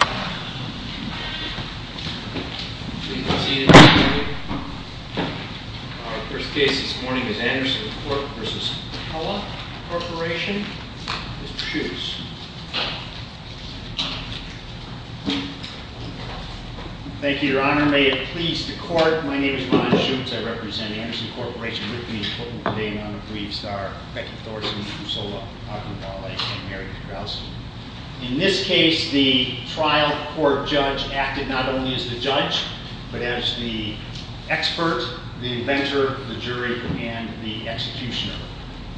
First case this morning is Andersen Corp v. Pella Corporation. Mr. Shoots. Thank you, Your Honor. May it please the Court, my name is Ron Shoots. I represent Andersen Corporation with me in court today. And on the briefs are Becky Thorson, Kusala Akhundwale, and Mary Petrowski. In this case, the trial court judge acted not only as the judge, but as the expert, the inventor, the jury, and the executioner.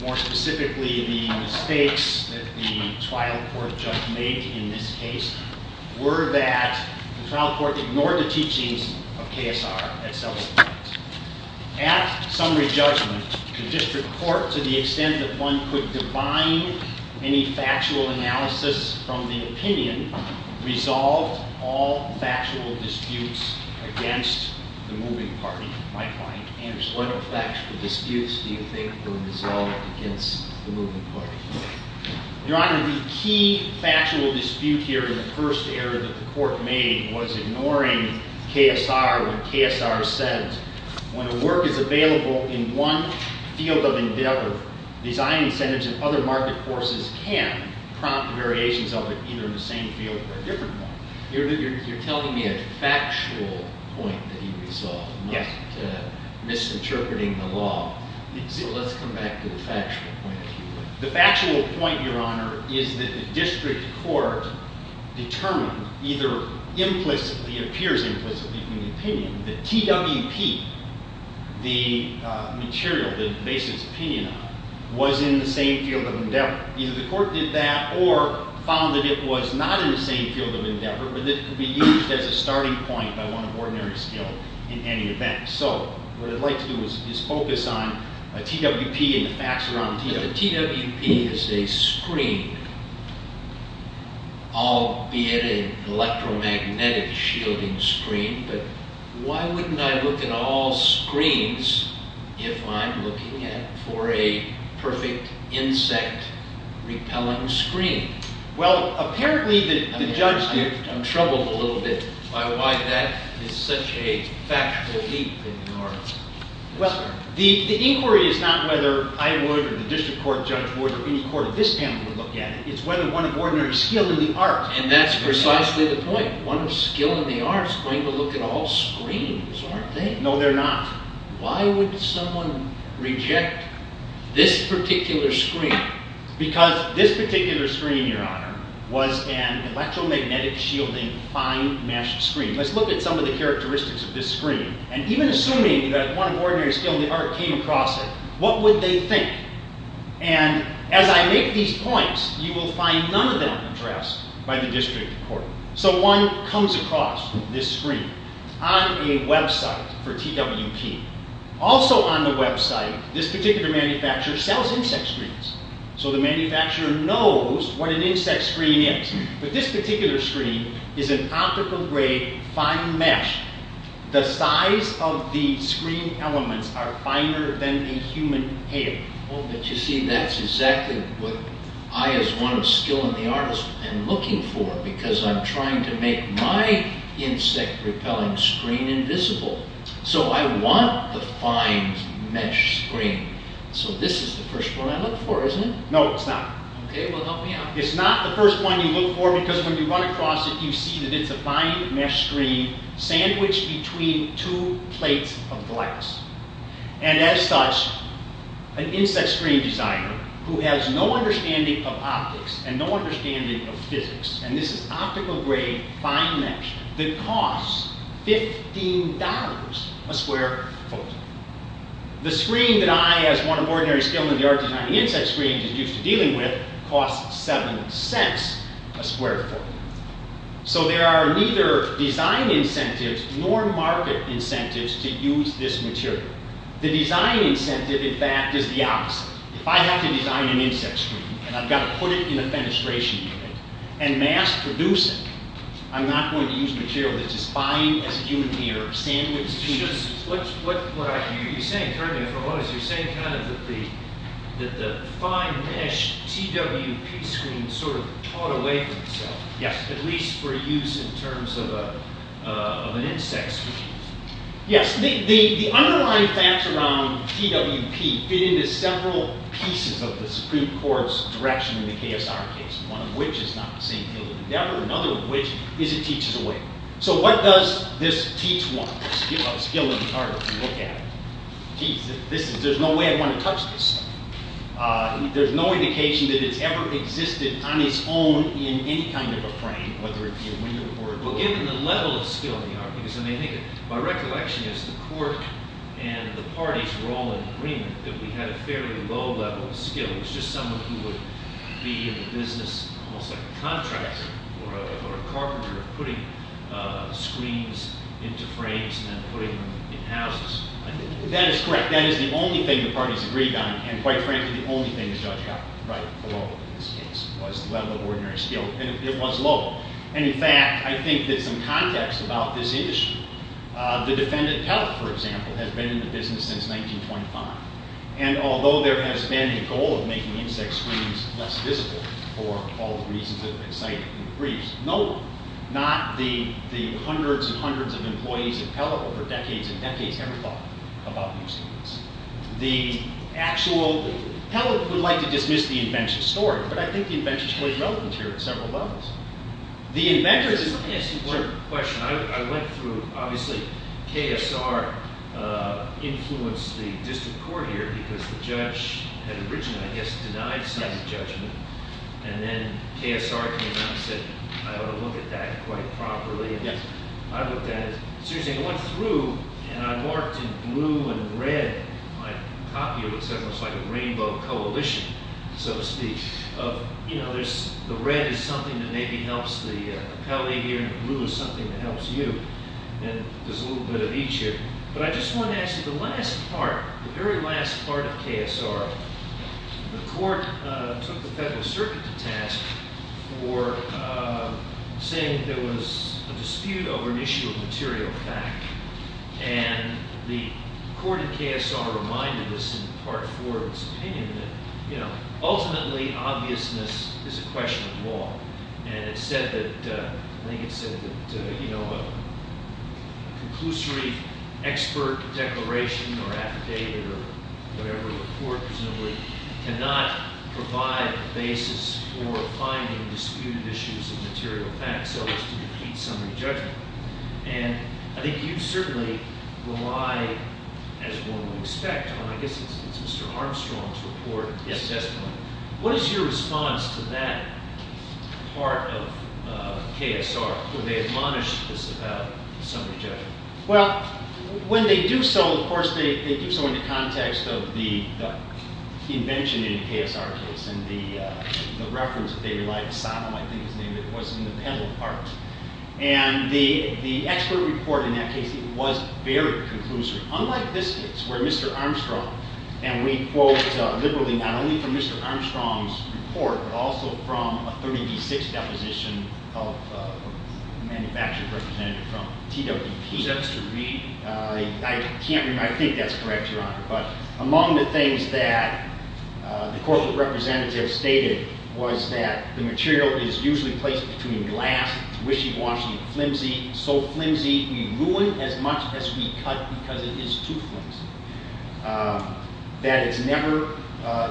More specifically, the mistakes that the trial court judge made in this case were that the trial court ignored the teachings of KSR at several points. At summary judgment, the district court, to the extent that one could divine any factual analysis from the opinion, resolved all factual disputes against the moving party. My point, Andersen, what factual disputes do you think were resolved against the moving party? Your Honor, the key factual dispute here in the first area that the court made was ignoring KSR, what KSR said. When a work is available in one field of endeavor, design incentives and other market forces can prompt variations of it, either in the same field or a different one. You're telling me a factual point that he resolved, not misinterpreting the law. So let's come back to the factual point. The factual point, Your Honor, is that the district court determined, either implicitly, it appears implicitly in the opinion, that TWP, the material that it bases its opinion on, was in the same field of endeavor. Either the court did that or found that it was not in the same field of endeavor, but that it could be used as a starting point by one of ordinary skill in any event. So what I'd like to do is focus on TWP and the facts around TWP. But the TWP is a screen, albeit an electromagnetic shielding screen, but why wouldn't I look at all screens if I'm looking for a perfect insect repellent screen? I'm troubled a little bit by why that is such a factual leap in the arts. Well, the inquiry is not whether I would or the district court judge would or any court of this panel would look at it. It's whether one of ordinary skill in the arts would look at it. And that's precisely the point. One of skill in the arts is going to look at all screens, aren't they? No, they're not. Why would someone reject this particular screen? Why? Because this particular screen, your honor, was an electromagnetic shielding, fine mesh screen. Let's look at some of the characteristics of this screen. And even assuming that one of ordinary skill in the arts came across it, what would they think? And as I make these points, you will find none of them addressed by the district court. So one comes across this screen on a website for TWP. Also on the website, this particular manufacturer sells insect screens. So the manufacturer knows what an insect screen is. But this particular screen is an optical-grade fine mesh. The size of the screen elements are finer than a human hair. Well, but you see, that's exactly what I as one of skill in the arts am looking for. Because I'm trying to make my insect repellent screen invisible. So I want the fine mesh screen. So this is the first one I look for, isn't it? No, it's not. Okay, well help me out. It's not the first one you look for because when you run across it, you see that it's a fine mesh screen sandwiched between two plates of glass. And as such, an insect screen designer who has no understanding of optics and no understanding of physics, and this is optical-grade fine mesh that costs $15 a square foot. The screen that I as one of ordinary skill in the arts designing insect screens is used to dealing with costs $0.07 a square foot. So there are neither design incentives nor market incentives to use this material. The design incentive, in fact, is the opposite. If I have to design an insect screen and I've got to put it in a fenestration unit and mass produce it, I'm not going to use material that's as fine as a human ear or sandwiched between those. What are you saying? You're saying kind of that the fine mesh TWP screen sort of caught away from itself. Yes. At least for use in terms of an insect screen. Yes. The underlying facts around TWP fit into several pieces of the Supreme Court's direction in the KSR case, one of which is not the same field of endeavor, another of which is it teaches a way. So what does this teach one, skill in the arts? Look at it. Geez, there's no way I'd want to touch this stuff. There's no indication that it's ever existed on its own in any kind of a frame, whether it be a window or a book. Given the level of skill in the arts, because I mean, by recollection, the court and the parties were all in agreement that we had a fairly low level of skill. It was just someone who would be in the business, almost like a contractor or a carpenter, putting screens into frames and then putting them in houses. That is correct. That is the only thing the parties agreed on. And quite frankly, the only thing the judge got right for Lowell in this case was the level of ordinary skill. And it was Lowell. And in fact, I think that some context about this issue, the defendant Pelt, for example, has been in the business since 1925. And although there has been a goal of making insect screens less visible for all the reasons that have been cited in the briefs, no one, not the hundreds and hundreds of employees of Pelt over decades and decades, ever thought about using this. The actual – Pelt would like to dismiss the invention story, but I think the invention story is relevant here at several levels. The inventor is – Let me ask you one question. I went through – obviously, KSR influenced the district court here because the judge had originally, I guess, denied some judgment. And then KSR came out and said, I ought to look at that quite properly. And I looked at it. Seriously, I went through and I marked in blue and red my copy of what's almost like a rainbow coalition, so to speak, of, you know, the red is something that maybe helps the appellee here and blue is something that helps you. And there's a little bit of each here. But I just want to ask you, the last part, the very last part of KSR, the court took the Federal Circuit to task for saying there was a dispute over an issue of material fact. And the court in KSR reminded us in part four of its opinion that, you know, ultimately, obviousness is a question of law. And it said that – I think it said that, you know, a conclusory expert declaration or affidavit or whatever, a court presumably cannot provide a basis for finding disputed issues of material fact, so as to defeat summary judgment. And I think you certainly rely, as one would expect, on – I guess it's Mr. Armstrong's report, his testimony. Yes. What is your response to that part of KSR where they admonish this about summary judgment? Well, when they do so, of course, they do so in the context of the invention in the KSR case. And the reference that they relied – I think his name was in the panel part. And the expert report in that case was very conclusive. Unlike this case, where Mr. Armstrong – and we quote liberally not only from Mr. Armstrong's report, but also from a 30d6 deposition of a manufactured representative from TWP. Is that to read? I can't remember. I think that's correct, Your Honor. But among the things that the corporate representative stated was that the material is usually placed between glass. It's wishy-washy, flimsy, so flimsy we ruin as much as we cut because it is too flimsy. That it's never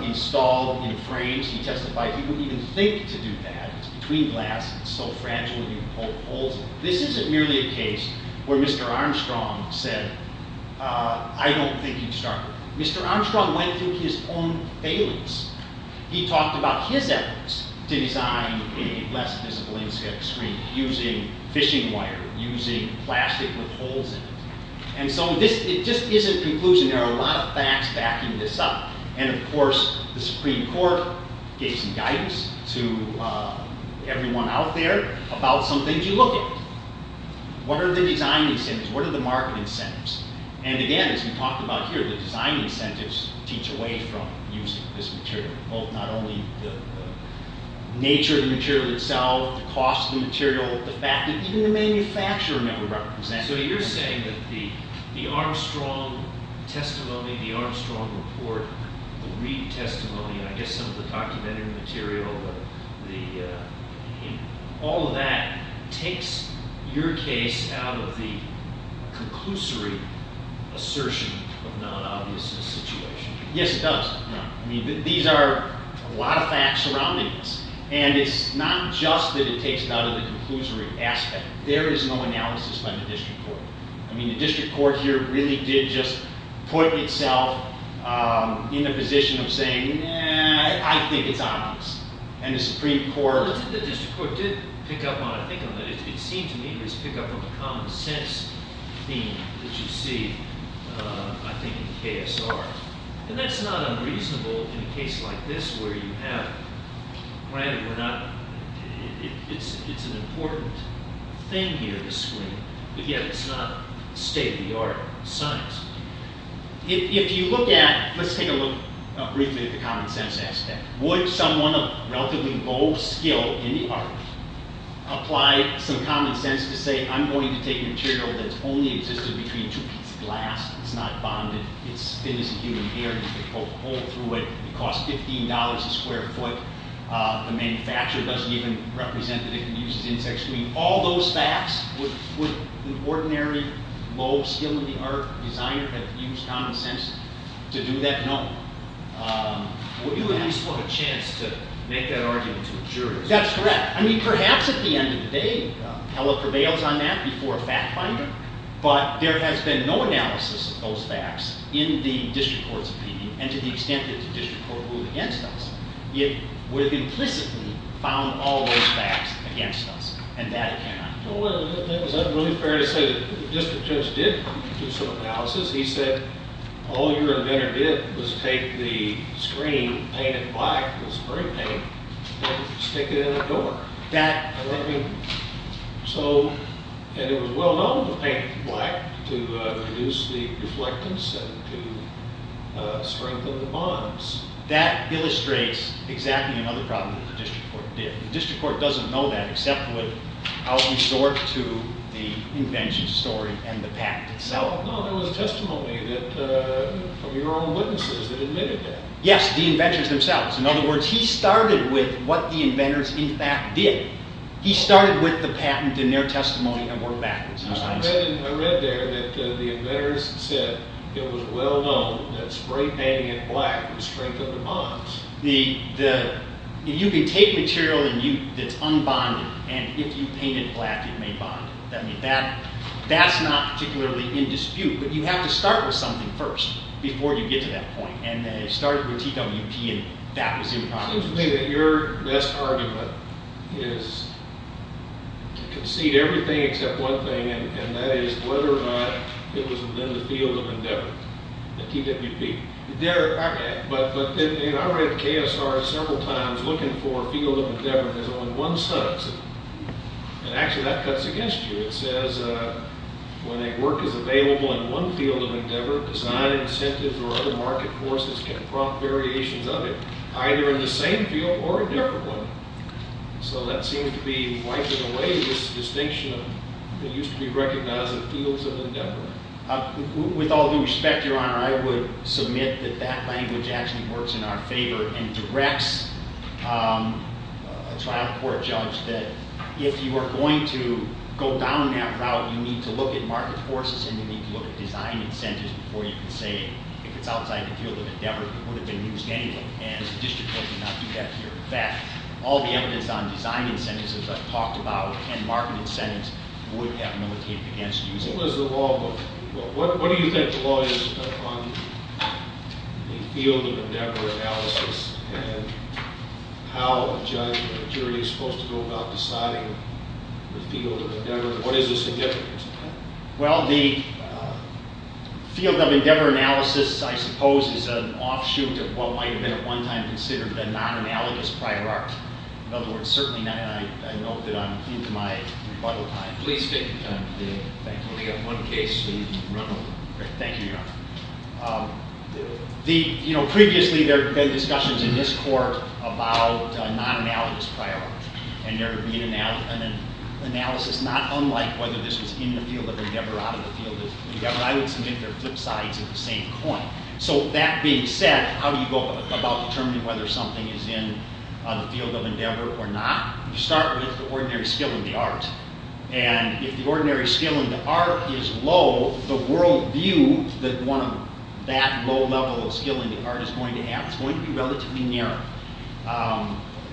installed in frames. He testified he wouldn't even think to do that. It's between glass. It's so fragile you can't hold it. This isn't merely a case where Mr. Armstrong said, I don't think he'd start. Mr. Armstrong went through his own failings. He talked about his efforts to design a less visible inkscape screen using fishing wire, using plastic with holes in it. And so it just isn't conclusion. There are a lot of facts backing this up. And of course, the Supreme Court gave some guidance to everyone out there about some things you look at. What are the design incentives? What are the marketing incentives? And again, as we talked about here, the design incentives teach away from using this material. Not only the nature of the material itself, the cost of the material, the fact that even the manufacturer never represents it. And so you're saying that the Armstrong testimony, the Armstrong report, the Reid testimony, I guess some of the documentary material, all of that takes your case out of the conclusory assertion of non-obviousness situation. Yes, it does. These are a lot of facts surrounding this. And it's not just that it takes it out of the conclusory aspect. There is no analysis by the district court. I mean, the district court here really did just put itself in the position of saying, eh, I think it's obvious. And the Supreme Court... The district court did pick up on it. It seemed to me it was pick up on the common sense theme that you see, I think, in KSR. And that's not unreasonable in a case like this where you have... It's an important thing here to screen, but yet it's not state-of-the-art science. If you look at... Let's take a look briefly at the common sense aspect. Would someone of relatively low skill in the art apply some common sense to say, I'm going to take material that's only existed between two pieces of glass. It's not bonded. It's thin as a human hair. You can poke a hole through it. It costs $15 a square foot. The manufacturer doesn't even represent that it can be used as insect screen. All those facts, would an ordinary low skill in the art designer have used common sense to do that? No. Well, you at least have a chance to make that argument to a jury. That's correct. I mean, perhaps at the end of the day, Heller prevails on that before a fact finder, but there has been no analysis of those facts in the district court's opinion, and to the extent that the district court ruled against us. It would have implicitly found all those facts against us, and that it cannot. Well, is that really fair to say that the district judge did do some analysis? He said, all your inventor did was take the screen, paint it black with spray paint, and stick it in a door. And it was well known to paint it black to reduce the reflectance and to strengthen the bonds. That illustrates exactly another problem that the district court did. The district court doesn't know that except with how it resorted to the invention story and the fact itself. No, there was testimony from your own witnesses that admitted that. Yes, the inventors themselves. In other words, he started with what the inventors in fact did. He started with the patent and their testimony and worked backwards. I read there that the inventors said it was well known that spray painting it black would strengthen the bonds. You can take material that's unbonded, and if you paint it black, it may bond. That's not particularly in dispute, but you have to start with something first before you get to that point. It started with TWP, and that was in Congress. It seems to me that your best argument is to concede everything except one thing, and that is whether or not it was within the field of endeavor, the TWP. I read the KSR several times looking for a field of endeavor, and there's only one such. Actually, that cuts against you. It says when a work is available in one field of endeavor, design incentives or other market forces can prompt variations of it, either in the same field or a different one. So that seems to be wiping away this distinction that used to be recognized in fields of endeavor. With all due respect, Your Honor, I would submit that that language actually works in our favor and directs a trial court judge that if you are going to go down that route, you need to look at market forces and you need to look at design incentives before you can say, if it's outside the field of endeavor, it would have been used anyway, and the district court did not do that here. In fact, all the evidence on design incentives, as I've talked about, and market incentives would have militated against using it. What do you think the law is on the field of endeavor analysis and how a judge or a jury is supposed to go about deciding the field of endeavor? What is the significance of that? Well, the field of endeavor analysis, I suppose, is an offshoot of what might have been at one time considered the non-analogous prior art. In other words, certainly I know that I'm into my rebuttal time. Please take your time. Thank you. We've only got one case, so you can run over. Thank you, Your Honor. Previously, there had been discussions in this court about non-analogous prior art, and there had been an analysis not unlike whether this was in the field of endeavor or out of the field of endeavor. I would submit they're flip sides of the same coin. So that being said, how do you go about determining whether something is in the field of endeavor or not? You start with the ordinary skill in the art, and if the ordinary skill in the art is low, the world view that one of that low level of skill in the art is going to have is going to be relatively narrow.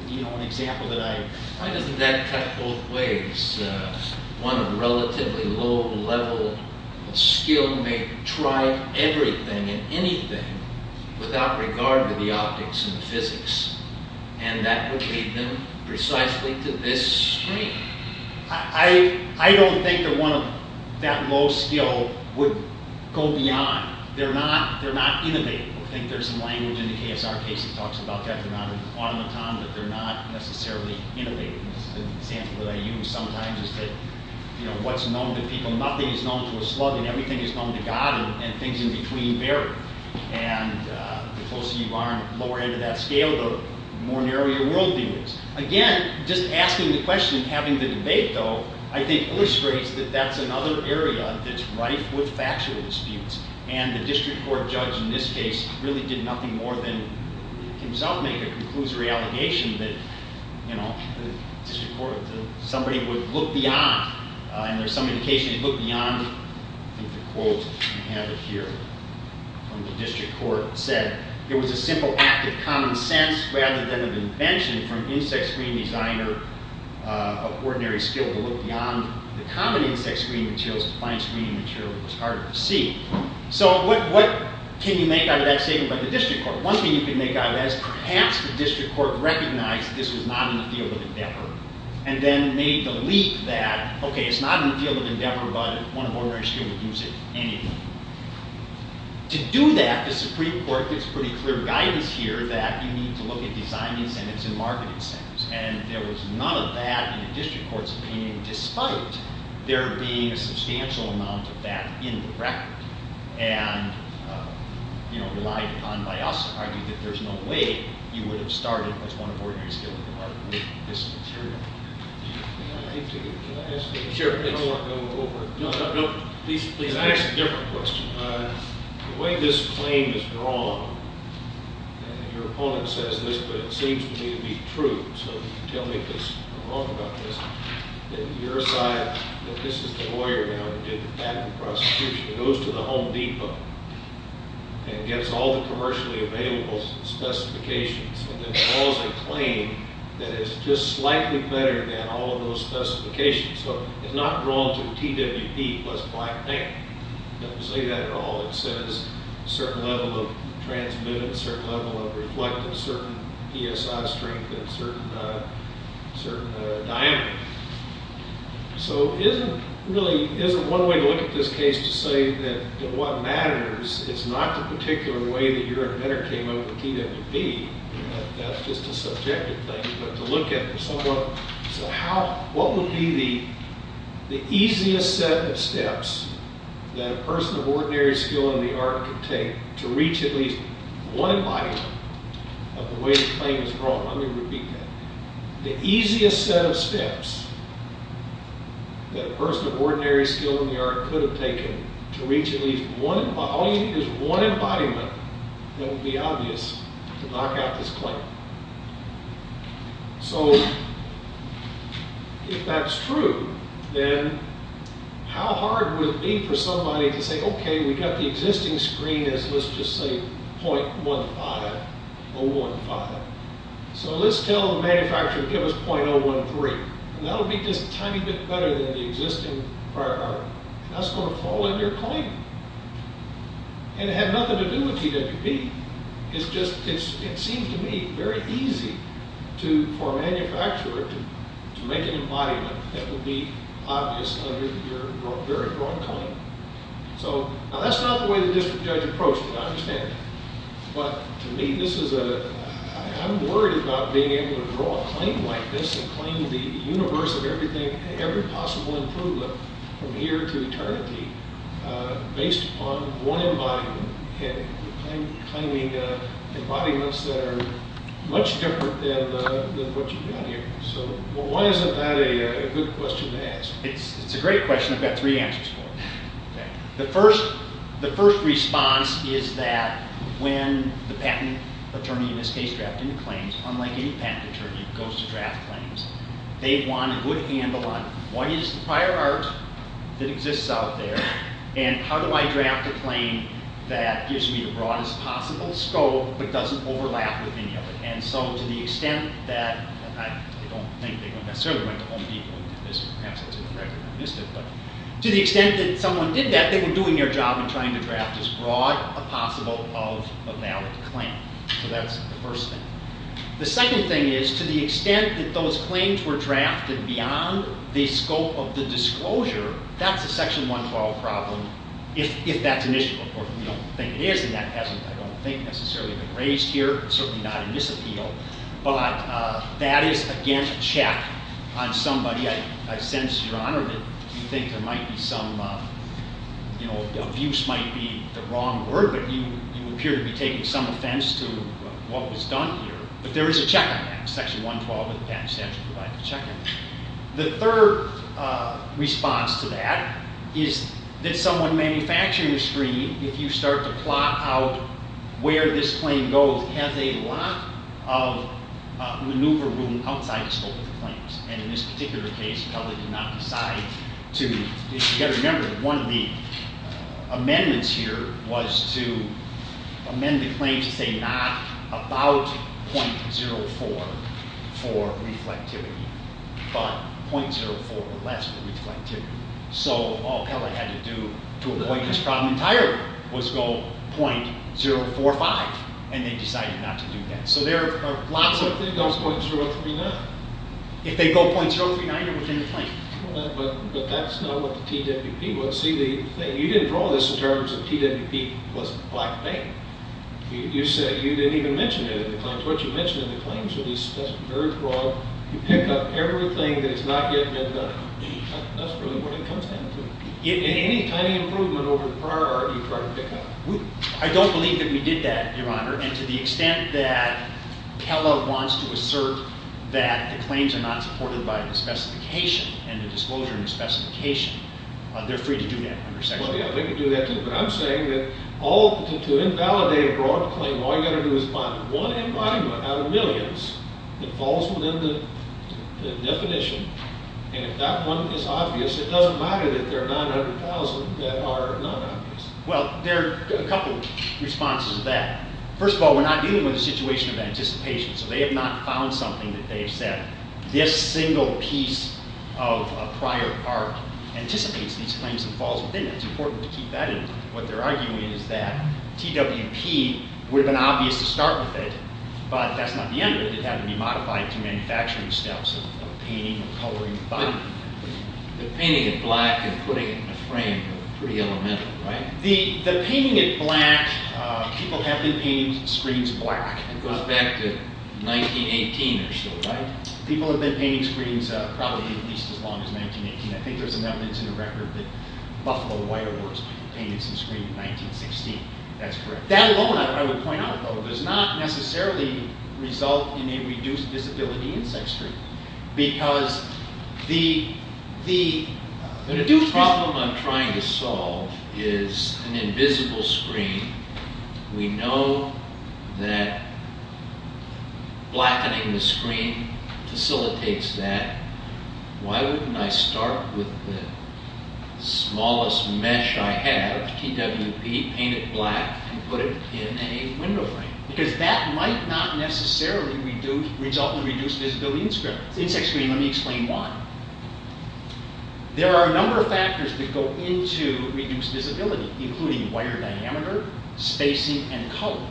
You know, an example that I… Why doesn't that cut both ways? One of relatively low level skill may try everything and anything without regard to the optics and the physics, and that would lead them precisely to this screen. I don't think that one of that low skill would go beyond. They're not innovative. I think there's some language in the KSR case that talks about that. They're not an automaton, but they're not necessarily innovative. This is an example that I use sometimes is that, you know, what's known to people. Nothing is known to a slug, and everything is known to God, and things in between vary. And the closer you are on the lower end of that scale, the more narrow your world view is. Again, just asking the question and having the debate, though, I think illustrates that that's another area that's rife with factual disputes, and the district court judge in this case really did nothing more than himself make a conclusory allegation that, you know, the district court, somebody would look beyond, and there's some indication they'd look beyond. I think the quote, I have it here, from the district court said, it was a simple act of common sense rather than an invention from an insect screen designer of ordinary skill to look beyond the common insect screen materials to find screen material that was hard to see. So what can you make out of that statement by the district court? One thing you can make out of that is perhaps the district court recognized this was not in the field of endeavor, and then made the leap that, okay, it's not in the field of endeavor, but one of ordinary skill would use it anyway. To do that, the Supreme Court gives pretty clear guidance here that you need to look at design incentives and marketing incentives, and there was none of that in the district court's opinion, despite there being a substantial amount of that in the record, and, you know, relied upon by us to argue that there's no way you would have started as one of ordinary skill to market this material. Can I ask a different question? The way this claim is drawn, and your opponent says this, but it seems to me to be true, so tell me if it's wrong about this, that your side, that this is the lawyer now who did the patent prosecution, goes to the Home Depot, and gets all the commercially available specifications, and then calls a claim that is just slightly better than all of those specifications. So it's not drawn to the TWP plus black paint. It doesn't say that at all. It says certain level of transmittance, certain level of reflective, certain PSI strength, and certain diameter. So is it really, is it one way to look at this case to say that what matters is not the particular way that your inventor came up with TWP, that that's just a subjective thing, but to look at it somewhat, so how, what would be the easiest set of steps that a person of ordinary skill in the art could take to reach at least one body of the way the claim is drawn? Let me repeat that. The easiest set of steps that a person of ordinary skill in the art could have taken to reach at least one, all you need is one embodiment that would be obvious to knock out this claim. So if that's true, then how hard would it be for somebody to say, okay, we got the existing screen as, let's just say, .15, 015. So let's tell the manufacturer, give us .013. That'll be just a tiny bit better than the existing prior art. That's going to fall in your claim. And it had nothing to do with TWP. It's just, it seems to me very easy to, for a manufacturer to make an embodiment that would be obvious under your very drawn claim. So, now that's not the way the district judge approached it, I understand that. But to me, this is a, I'm worried about being able to draw a claim like this and claim the universe of everything, every possible improvement from here to eternity based upon one embodiment and claiming embodiments that are much different than what you've got here. So why isn't that a good question to ask? It's a great question. I've got three answers for it. The first response is that when the patent attorney in this case drafted a claim, unlike any patent attorney who goes to draft claims, they want a good handle on what is the prior art that exists out there and how do I draft a claim that gives me the broadest possible scope but doesn't overlap with any of it. And so to the extent that, I don't think they necessarily went to Home Depot to the extent that someone did that, they were doing their job in trying to draft as broad a possible of a valid claim. So that's the first thing. The second thing is to the extent that those claims were drafted beyond the scope of the disclosure, that's a Section 112 problem if that's an issue. Of course, we don't think it is and that hasn't, I don't think, necessarily been raised here. It's certainly not a misappeal. But that is, again, a check on somebody. I sense, Your Honor, that you think there might be some, you know, abuse might be the wrong word, but you appear to be taking some offense to what was done here. But there is a check on that. Section 112 of the Patent and Statute provides a check on that. The third response to that is that someone manufacturing the screen, if you start to plot out where this claim goes, has a lot of maneuver room outside the scope of the claims. And in this particular case, Pelley did not decide to, you've got to remember, one of the amendments here was to amend the claim to say not about .04 for reflectivity, but .04 or less for reflectivity. So all Pelley had to do to avoid this problem entirely was go .045, and they decided not to do that. So there are lots of... I don't think it was .039. If they go .039, you're within the claim. But that's not what the TWP would see the thing. You didn't draw this in terms of TWP plus Black Bank. You said you didn't even mention it in the claims. What you mention in the claims would be very broad. You pick up everything that has not yet been done. That's really what it comes down to. Any tiny improvement over the prior art, you try to pick up. I don't believe that we did that, Your Honor, and to the extent that Pelley wants to assert that the claims are not supported by the specification and the disclosure in the specification, they're free to do that under section 1. Well, yeah, they can do that too. But I'm saying that to invalidate a broad claim, all you've got to do is find one embodiment out of millions that falls within the definition, and if that one is obvious, it doesn't matter that there are 900,000 that are not obvious. Well, there are a couple of responses to that. First of all, we're not dealing with a situation of anticipation, so they have not found something that they have said, this single piece of prior art anticipates these claims and falls within it. It's important to keep that in mind. What they're arguing is that TWP would have been obvious to start with it, but that's not the end of it. It would have to be modified to manufacturing steps of painting or coloring the body. But painting it black and putting it in a frame are pretty elemental, right? The painting it black, people have been painting screens black. It goes back to 1918 or so, right? People have been painting screens probably at least as long as 1918. I think there's some evidence in the record that Buffalo White Awards people painted some screens in 1916. That's correct. That alone, I would point out, though, does not necessarily result in a reduced visibility insect screen because the problem I'm trying to solve is an invisible screen. We know that blackening the screen facilitates that. Why wouldn't I start with the smallest mesh I have, TWP, paint it black, and put it in a window frame? Because that might not necessarily result in reduced visibility insect screen. Let me explain why. There are a number of factors that go into reduced visibility, including wire diameter, spacing, and color.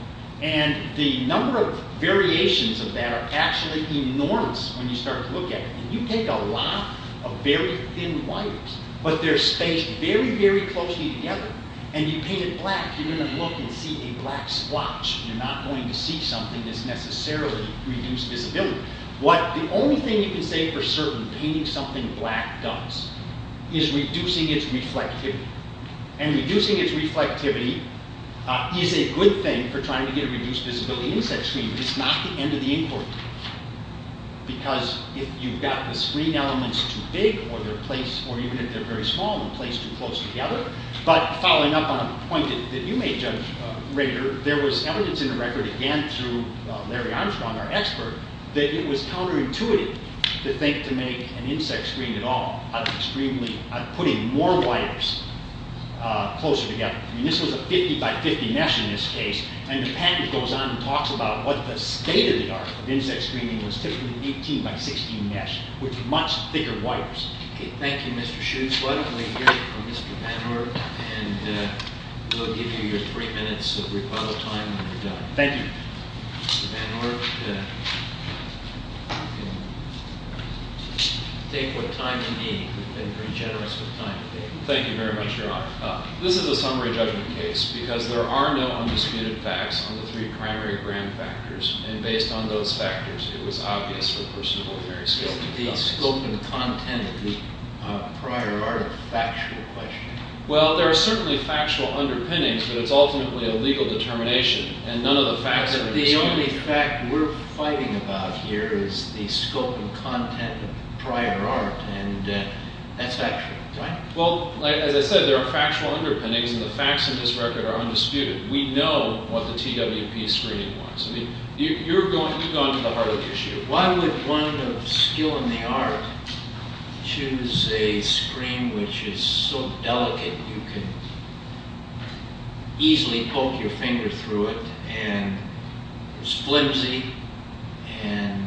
The number of variations of that are actually enormous when you start to look at it. You take a lot of very thin wires, but they're spaced very, very closely together, and you paint it black, you're going to look and see a black splotch. You're not going to see something that's necessarily reduced visibility. The only thing you can say for certain, painting something black does, is reducing its reflectivity. And reducing its reflectivity is a good thing for trying to get a reduced visibility insect screen. It's not the end of the inquiry. Because if you've got the screen elements too big, or even if they're very small, and placed too close together, but following up on a point that you made, Judge Rader, there was evidence in the record, again through Larry Armstrong, our expert, that it was counterintuitive to think to make an insect screen at all, putting more wires closer together. This was a 50 by 50 mesh in this case, and the package goes on and talks about what the state of the art of insect screening was, typically 18 by 16 mesh, with much thicker wires. Okay, thank you, Mr. Shoeswell. I'm going to hear from Mr. Van Ork, and we'll give you your three minutes of rebuttal time when you're done. Thank you. Mr. Van Ork, you can take what time you need. You've been pretty generous with time today. Thank you very much, Your Honor. This is a summary judgment case, because there are no undisputed facts on the three primary grand factors, and based on those factors, it was obvious for a person of ordinary skill to conduct this. The scope and content of the prior art are a factual question. Well, there are certainly factual underpinnings, but it's ultimately a legal determination, and none of the facts are undisputed. But the only fact we're fighting about here is the scope and content of the prior art, and that's factual, right? Well, as I said, there are factual underpinnings, and the facts in this record are undisputed. We know what the TWP screening was. You've gone to the heart of the issue. Why would one of skill in the art choose a screen which is so delicate you can easily poke your finger through it and is flimsy and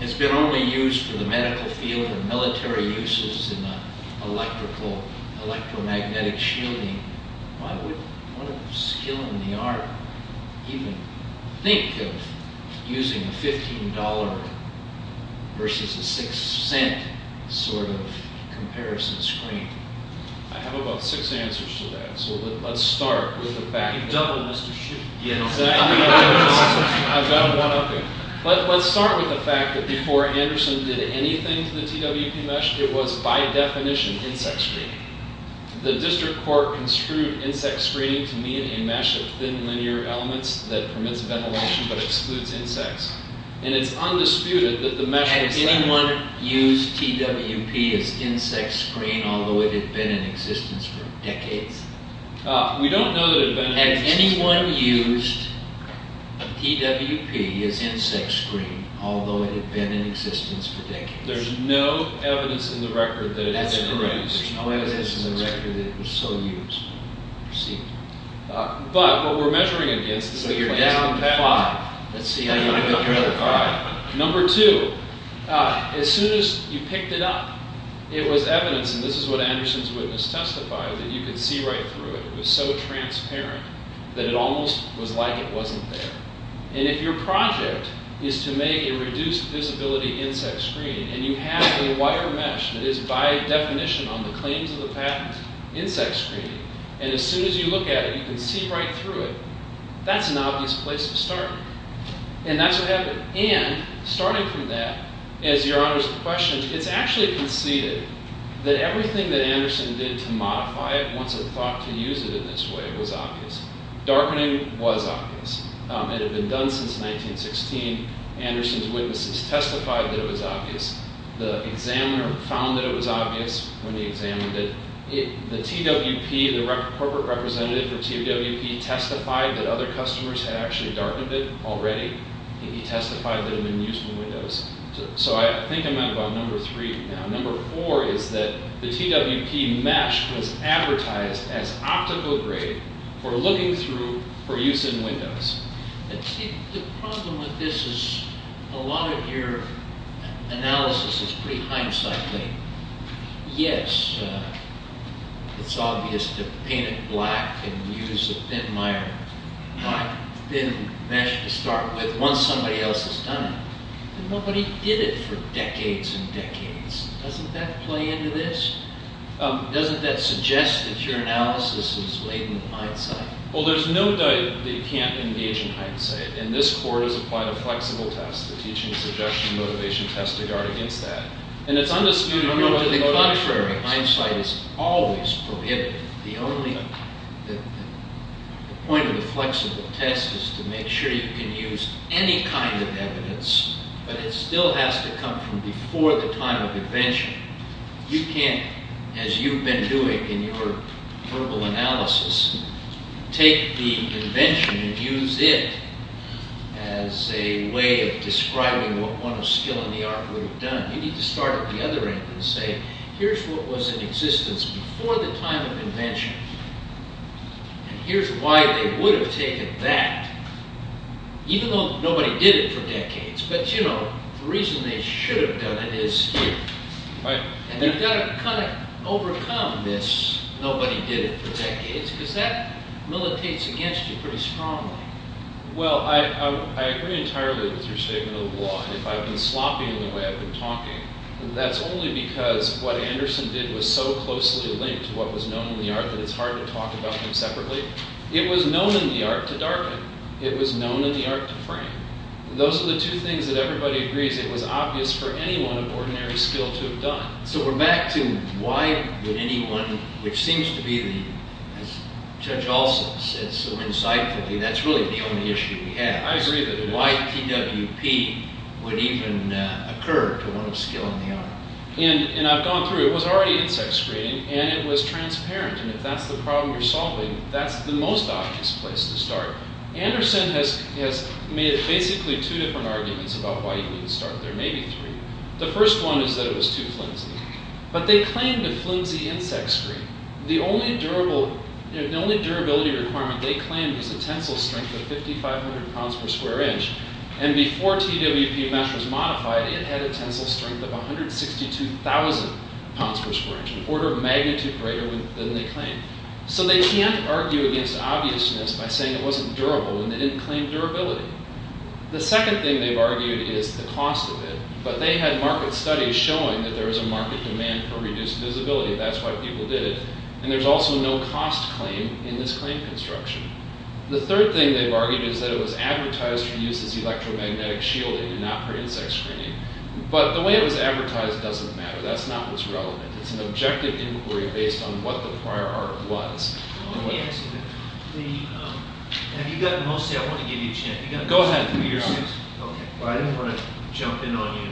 has been only used for the medical field and military uses in electromagnetic shielding? Why would one of skill in the art even think of using a $15 versus a $0.06 sort of comparison screen? I have about six answers to that, so let's start with the fact that… I've got one up here. Let's start with the fact that before Anderson did anything to the TWP mesh, it was by definition insect screening. The district court construed insect screening to mean a mesh of thin linear elements that permits ventilation but excludes insects. And it's undisputed that the mesh… Had anyone used TWP as insect screen, although it had been in existence for decades? We don't know that it had been in existence. Had anyone used TWP as insect screen, although it had been in existence for decades? There's no evidence in the record that it had ever been used. That's correct. There's no evidence in the record that it was so used. But what we're measuring against… So you're down five. Number two, as soon as you picked it up, it was evidence, and this is what Anderson's witness testified, that you could see right through it. It was so transparent that it almost was like it wasn't there. And if your project is to make a reduced visibility insect screen, and you have a wire mesh that is by definition on the claims of the patent insect screening, and as soon as you look at it, you can see right through it, that's an obvious place to start. And that's what happened. And starting from that, as your Honor's question, it's actually conceded that everything that Anderson did to modify it, once it thought to use it in this way, was obvious. Darkening was obvious. It had been done since 1916. Anderson's witnesses testified that it was obvious. The examiner found that it was obvious when he examined it. The TWP, the corporate representative for TWP, testified that other customers had actually darkened it already. He testified that it had been used in windows. So I think I'm at about number three now. Number four is that the TWP mesh was advertised as optical grade for looking through for use in windows. The problem with this is a lot of your analysis is pretty hindsight-making. Yes, it's obvious to paint it black and use a thin mesh to start with once somebody else has done it. But nobody did it for decades and decades. Doesn't that play into this? Doesn't that suggest that your analysis is laden with hindsight? Well, there's no doubt that you can't engage in hindsight, and this Court has applied a flexible test, the teaching, suggestion, motivation test, to guard against that. To the contrary, hindsight is always prohibited. The point of the flexible test is to make sure you can use any kind of evidence, but it still has to come from before the time of invention. You can't, as you've been doing in your verbal analysis, take the invention and use it as a way of describing what one of skill in the art would have done. You need to start at the other end and say, here's what was in existence before the time of invention, and here's why they would have taken that, even though nobody did it for decades. But, you know, the reason they should have done it is here. And you've got to kind of overcome this nobody did it for decades, because that militates against you pretty strongly. Well, I agree entirely with your statement of the law, and if I've been sloppy in the way I've been talking, that's only because what Anderson did was so closely linked to what was known in the art that it's hard to talk about them separately. It was known in the art to darken. It was known in the art to frame. Those are the two things that everybody agrees it was obvious for anyone of ordinary skill to have done. So we're back to why would anyone, which seems to be, as Judge Olson said so insightfully, that's really the only issue we have. I agree that a white PWP would even occur to one of skill in the art. And I've gone through. It was already insect screening, and it was transparent, and if that's the problem you're solving, that's the most obvious place to start. Anderson has made basically two different arguments about why you need to start there, maybe three. The first one is that it was too flimsy. But they claimed a flimsy insect screen. The only durability requirement they claimed was a tensile strength of 5,500 pounds per square inch, and before TWP mesh was modified, it had a tensile strength of 162,000 pounds per square inch, an order of magnitude greater than they claimed. So they can't argue against obviousness by saying it wasn't durable, and they didn't claim durability. The second thing they've argued is the cost of it, but they had market studies showing that there was a market demand for reduced visibility. That's why people did it. And there's also no cost claim in this claim construction. The third thing they've argued is that it was advertised for use as electromagnetic shielding, not for insect screening. But the way it was advertised doesn't matter. That's not what's relevant. It's an objective inquiry based on what the prior art was. Let me ask you this. Have you gotten most of it? I want to give you a chance. Go ahead. Well, I didn't want to jump in on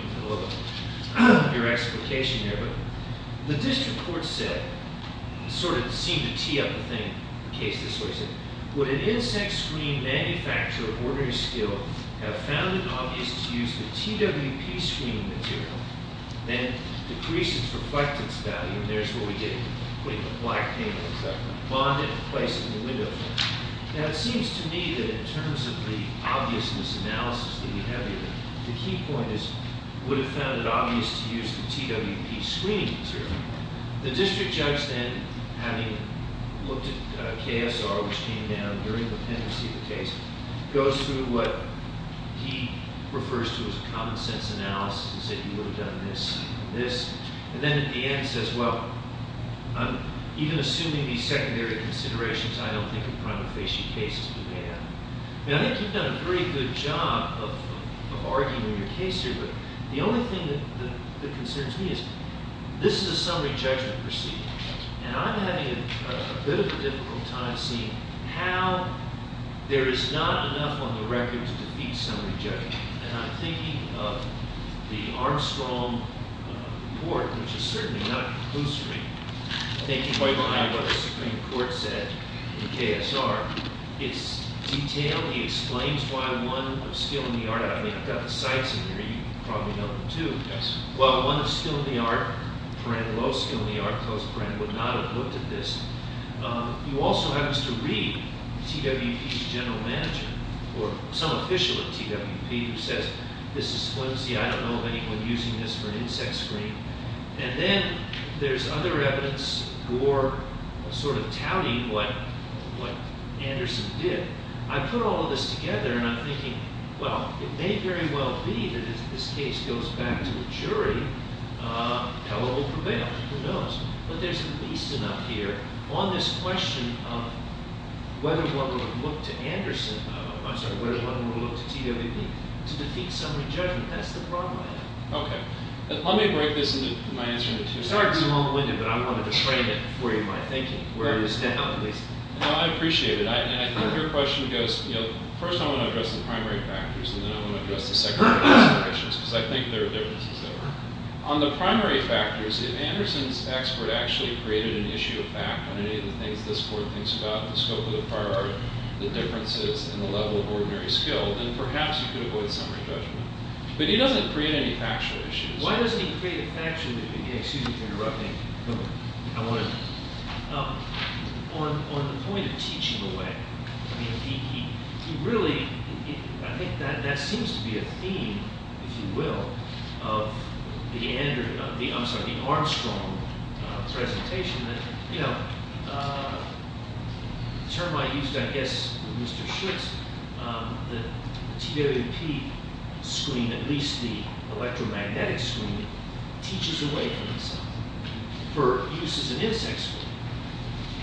your explication there, but the district court said, and sort of seemed to tee up the case this way, would an insect screen manufacturer of ordinary skill have found it obvious to use the TWP screening material that decreases reflectance value, and there's what we did, putting a black panel, et cetera, bonded and placed it in the window frame. Now, it seems to me that in terms of the obviousness analysis that we have here, the key point is would have found it obvious to use the TWP screening material. The district judge then, having looked at KSR, which came down during the pendency of the case, goes through what he refers to as a common sense analysis and said he would have done this and this. And then at the end he says, well, even assuming these secondary considerations, I don't think a prima facie case is the way out. Now, I think you've done a pretty good job of arguing your case here, but the only thing that concerns me is this is a summary judgment proceeding, and I'm having a bit of a difficult time seeing how there is not enough on the record to defeat summary judgment. And I'm thinking of the Armstrong report, which is certainly not a clue screen. I think you might have heard what the Supreme Court said in KSR. It's detailed. He explains why one of skill in the art, I mean, I've got the sites in here. You probably know them too. Yes. Well, one of skill in the art, low skill in the art, would not have looked at this. You also have us to read TWP's general manager or some official at TWP who says, this is flimsy. I don't know of anyone using this for an insect screen. And then there's other evidence, Gore sort of touting what Anderson did. I put all of this together, and I'm thinking, well, it may very well be that if this case goes back to the jury, how it will prevail. Who knows? But there's at least enough here on this question of whether one would look to Anderson, I'm sorry, whether one would look to TWP to defeat summary judgment. That's the problem I have. Okay. Let me break this into, my answer into two. Sorry to be long-winded, but I wanted to frame it for you, my thinking, where it was down, at least. No, I appreciate it. And I think your question goes, you know, first I want to address the primary factors, and then I want to address the secondary considerations, because I think there are differences there. On the primary factors, if Anderson's expert actually created an issue of fact on any of the things this court thinks about, the scope of the prior art, the differences in the level of ordinary skill, then perhaps you could avoid summary judgment. But he doesn't create any factual issues. Why doesn't he create a factual issue? Excuse me for interrupting. Go ahead. I want to, on the point of teaching away, I mean, he really, I think that seems to be a theme, if you will, of the Armstrong presentation. You know, the term I used, I guess, with Mr. Schultz, the TWP screen, at least the electromagnetic screen, teaches away from itself, for use as an insect screen.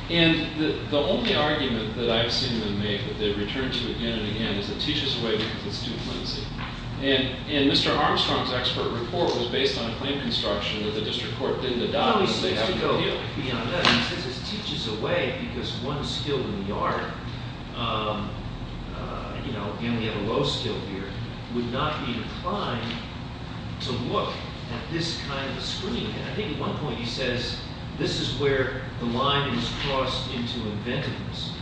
And the only argument that I've seen them make, that they've returned to again and again, is it teaches away because it's too clumsy. And Mr. Armstrong's expert report was based on a claim construction that the district court didn't adopt. So it probably seems to go beyond that. He says it teaches away because one skill in the art, you know, again, we have a low skill here, would not be inclined to look at this kind of a screen. And I think at one point he says, this is where the line is crossed into inventiveness.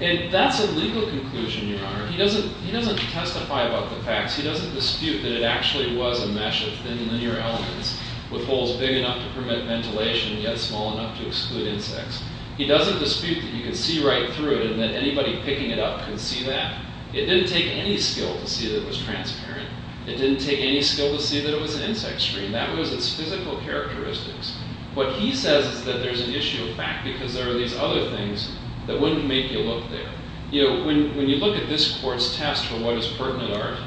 And that's a legal conclusion, Your Honor. He doesn't testify about the facts. He doesn't dispute that it actually was a mesh of thin linear elements with holes big enough to permit ventilation, yet small enough to exclude insects. He doesn't dispute that you can see right through it and that anybody picking it up could see that. It didn't take any skill to see that it was transparent. It didn't take any skill to see that it was an insect screen. That was its physical characteristics. What he says is that there's an issue of fact because there are these other things that wouldn't make you look there. You know, when you look at this court's test for what is pertinent art,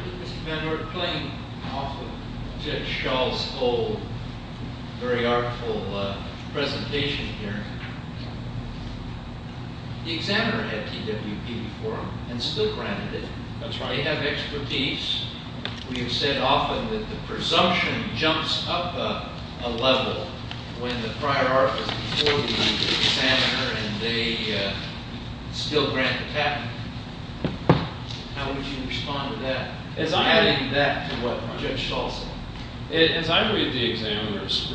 Your Honor, we're playing off of Judge Schall's old, very artful presentation here. The examiner had TWP before him and still granted it. That's right. They have expertise. We have said often that the presumption jumps up a level and they still grant the patent. How would you respond to that? Adding that to what Judge Schall said. As I read the examiner's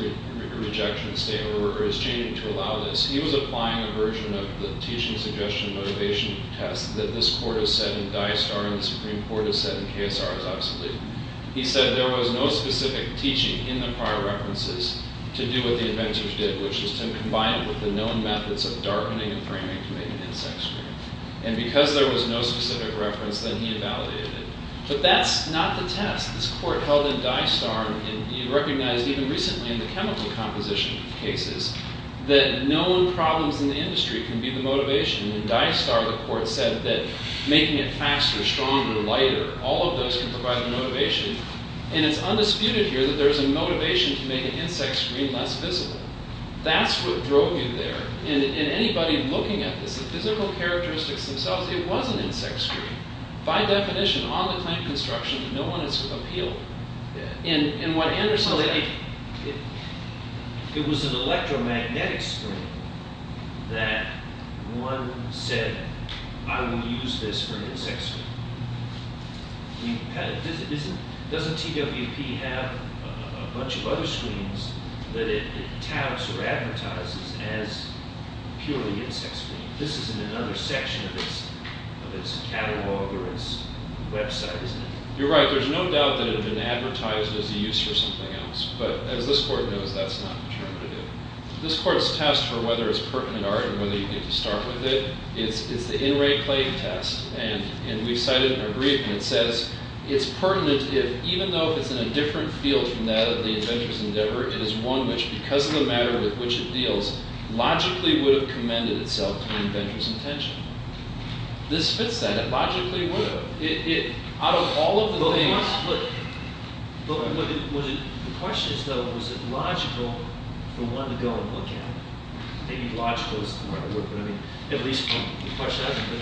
rejection statement, or his changing to allow this, he was applying a version of the teaching suggestion motivation test that this court has said in Dye Star and the Supreme Court has said in KSR is obsolete. He said there was no specific teaching in the prior references to do what the inventors did, which is to combine it with the known methods of darkening and framing to make an insect screen. And because there was no specific reference, then he invalidated it. But that's not the test. This court held in Dye Star, and you recognized even recently in the chemical composition cases, that known problems in the industry can be the motivation. In Dye Star, the court said that making it faster, stronger, lighter, all of those can provide the motivation. And it's undisputed here that there's a motivation to make an insect screen less visible. That's what drove you there. In anybody looking at this, the physical characteristics themselves, it was an insect screen. By definition, on-the-claim construction, no one has appealed. In what Anderson was saying, it was an electromagnetic screen that one said, I will use this for an insect screen. Doesn't TWP have a bunch of other screens that it touts or advertises as purely insect screen? This is in another section of its catalog or its website, isn't it? You're right. There's no doubt that it had been advertised as a use for something else. But as this court knows, that's not determined to do. This court's test for whether it's pertinent art and whether you need to start with it, it's the in-rate claim test. And we've cited it in our brief, and it says it's pertinent if, even though if it's in a different field from that of the inventor's endeavor, it is one which, because of the matter with which it deals, logically would have commended itself to the inventor's intention. This fits that. It logically would have. Out of all of the things... The question is, though, was it logical for one to go and look at it? Maybe logical is the word, but at least the question hasn't been...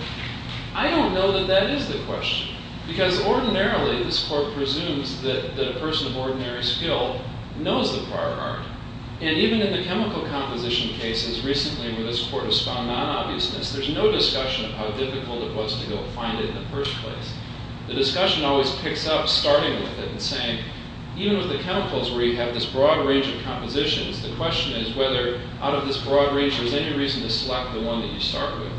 I don't know that that is the question. Because ordinarily, this court presumes that a person of ordinary skill knows the prior art. And even in the chemical composition cases recently where this court has found non-obviousness, there's no discussion of how difficult it was to go find it in the first place. The discussion always picks up starting with it and saying, even with the chemicals where you have this broad range of compositions, the question is whether, out of this broad range, there's any reason to select the one that you start with.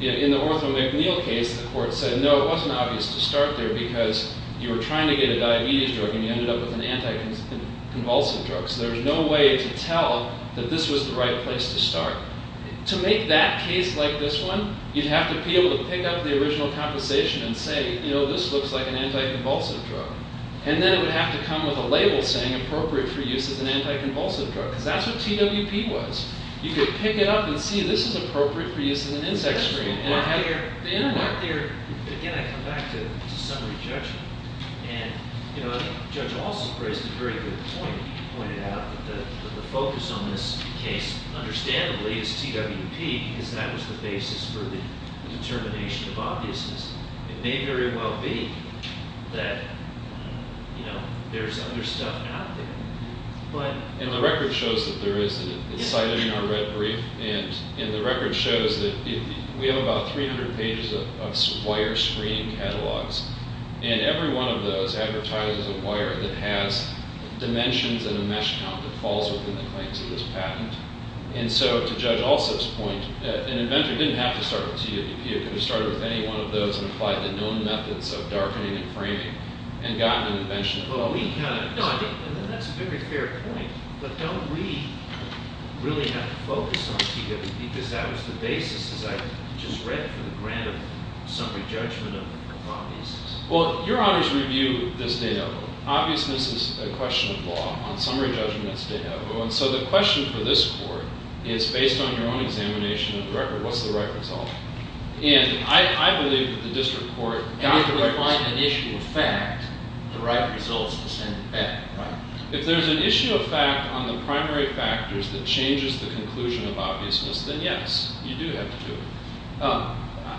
In the Ortho McNeil case, the court said, no, it wasn't obvious to start there because you were trying to get a diabetes drug and you ended up with an anti-convulsive drug. So there was no way to tell that this was the right place to start. To make that case like this one, you'd have to be able to pick up the original composition and say, this looks like an anti-convulsive drug. And then it would have to come with a label saying appropriate for use as an anti-convulsive drug. Because that's what TWP was. You could pick it up and see, this is appropriate for use as an insect screen. Again, I come back to summary judgment. And Judge Alsop raised a very good point. He pointed out that the focus on this case, understandably, is TWP because that was the basis for the determination of obviousness. It may very well be that there's other stuff out there. And the record shows that there is. It's cited in our red brief. And the record shows that we have about 300 pages of wire screen catalogs. And every one of those advertises a wire that has dimensions and a mesh count that falls within the claims of this patent. And so, to Judge Alsop's point, an inventor didn't have to start with TWP. It could have started with any one of those and applied the known methods of darkening and framing and gotten an invention. That's a very fair point. But don't we really have to focus on TWP because that was the basis, as I just read, for the grant of summary judgment of obviousness? Well, your honors review this de novo. Obviousness is a question of law. On summary judgment, it's de novo. And so the question for this court is based on your own examination of the record. What's the right result? And I believe that the district court... And if we find an issue of fact, the right result is to send it back, right? If there's an issue of fact on the primary factors that changes the conclusion of obviousness, then, yes, you do have to do it.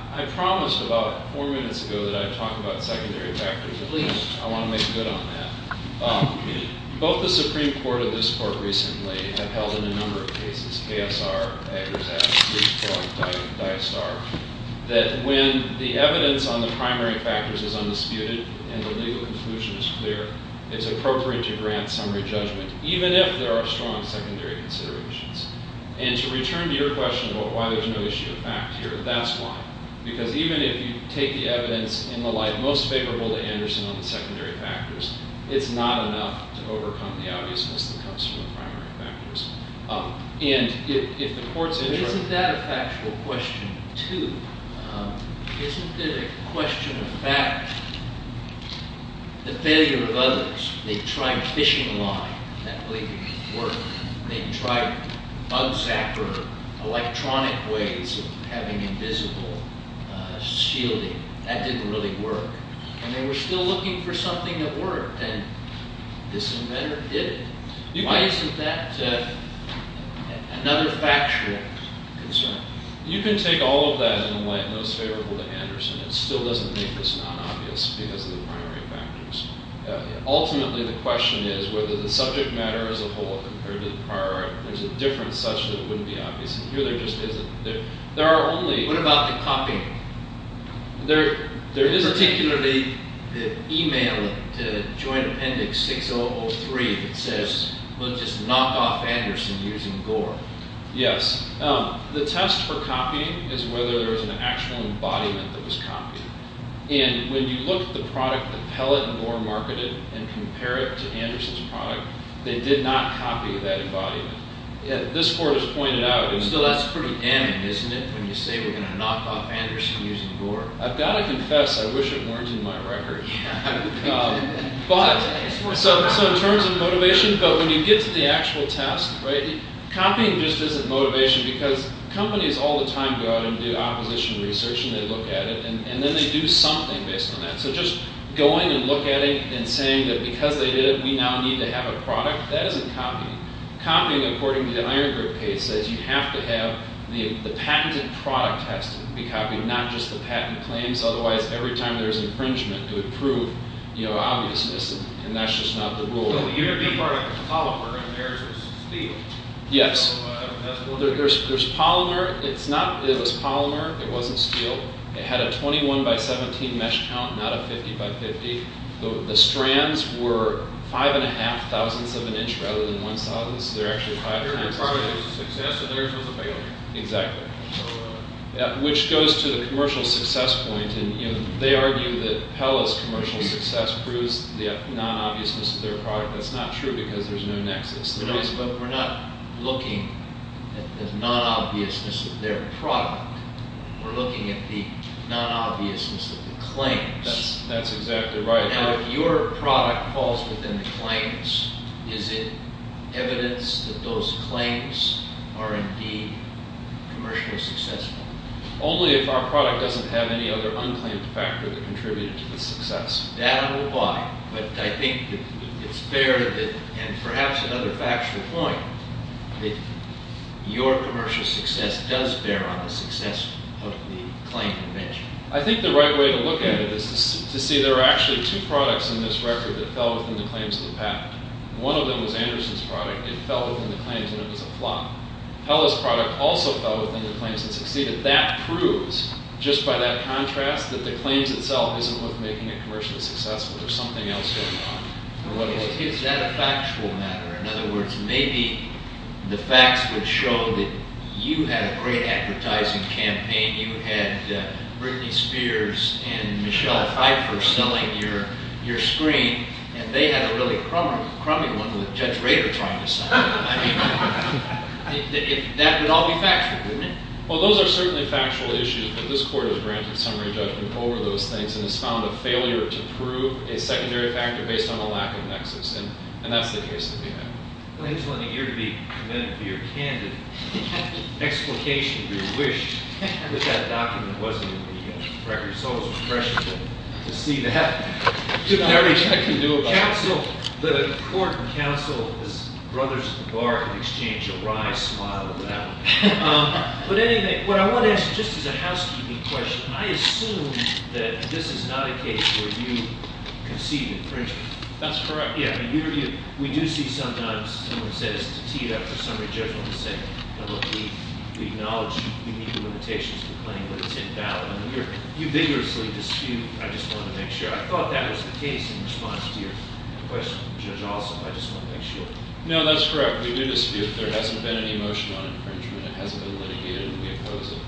I promised about four minutes ago that I'd talk about secondary factors. At least, I want to make good on that. Both the Supreme Court and this court recently have held in a number of cases, KSR, Eggers-Asch, Rees-Point, Diastar, that when the evidence on the primary factors is undisputed and the legal conclusion is clear, it's appropriate to grant summary judgment, even if there are strong secondary considerations. And to return to your question about why there's no issue of fact here, that's why. Because even if you take the evidence in the light most favorable to Anderson on the secondary factors, it's not enough to overcome the obviousness that comes from the primary factors. And if the courts interpret... Isn't that a factual question, too? Isn't it a question of fact? The failure of others, they tried fishing line, that believed it could work. They tried bug zapper, electronic ways of having invisible shielding. That didn't really work. And they were still looking for something that worked, and this inventor did it. Why isn't that another factual concern? You can take all of that in the light most favorable to Anderson. It still doesn't make this non-obvious because of the primary factors. Ultimately, the question is whether the subject matter as a whole compared to the prior art, there's a difference such that it wouldn't be obvious. And here there just isn't. What about the copying? There isn't. Particularly the email to Joint Appendix 6003 that says we'll just knock off Anderson using Gore. Yes. The test for copying is whether there's an actual embodiment that was copied. And when you look at the product, the pellet and Gore marketed, and compare it to Anderson's product, they did not copy that embodiment. This court has pointed out. Still, that's pretty damning, isn't it? When you say we're going to knock off Anderson using Gore. I've got to confess, I wish it weren't in my record. But, so in terms of motivation, when you get to the actual test, copying just isn't motivation because companies all the time go out and do opposition research and they look at it, and then they do something based on that. So just going and looking at it and saying that because they did it, we now need to have a product, that isn't copying. Copying, according to the Iron Group case, says you have to have, the patented product has to be copied, not just the patent claims. Otherwise, every time there's infringement, it would prove, you know, obviousness. And that's just not the rule. You have your product with polymer and theirs is steel. Yes. There's polymer, it's not, it was polymer, it wasn't steel. It had a 21 by 17 mesh count, not a 50 by 50. The strands were five and a half thousandths of an inch rather than one thousandth, so they're actually five and a half. Their product is a success and theirs was a failure. Exactly. Which goes to the commercial success point and, you know, they argue that Pella's commercial success proves the non-obviousness of their product. That's not true because there's no nexus. No, but we're not looking at the non-obviousness of their product. We're looking at the non-obviousness of the claims. That's exactly right. Now, if your product falls within the claims, is it evidence that those claims are indeed commercially successful? Only if our product doesn't have any other unclaimed factor that contributed to the success. That would apply, but I think it's fair that, and perhaps another factual point, that your commercial success does bear on the success of the claim convention. I think the right way to look at it is to see there are actually two products in this record that fell within the claims of the patent. One of them was Anderson's product. It fell within the claims and it was a flop. Pella's product also fell within the claims and succeeded. That proves, just by that contrast, that the claims itself isn't worth making it commercially successful. There's something else going on. Is that a factual matter? In other words, maybe the facts would show that you had a great advertising campaign. Maybe you had Britney Spears and Michelle Pfeiffer selling your screen and they had a really crummy one with Judge Rader trying to sell it. I mean, that would all be factual, wouldn't it? Well, those are certainly factual issues, but this Court has granted summary judgment over those things and has found a failure to prove a secondary factor based on a lack of nexus. And that's the case that we have. Well, it's been a year to be commended for your candid explication of your wish that that document wasn't in the records. It's always refreshing to see that. I can do about that. The Court and counsel, the brothers at the bar, have exchanged a wry smile about it. But anyway, what I want to ask, just as a housekeeping question, I assume that this is not a case where you concede infringement. That's correct. Yeah, I mean, we do see sometimes someone says to tee it up for summary judgment and say, look, we acknowledge you meet the limitations of the claim, but it's invalid. You vigorously dispute. I just want to make sure. I thought that was the case in response to your question, Judge Alsop. I just want to make sure. No, that's correct. We do dispute. There hasn't been any motion on infringement. It hasn't been litigated. We oppose it.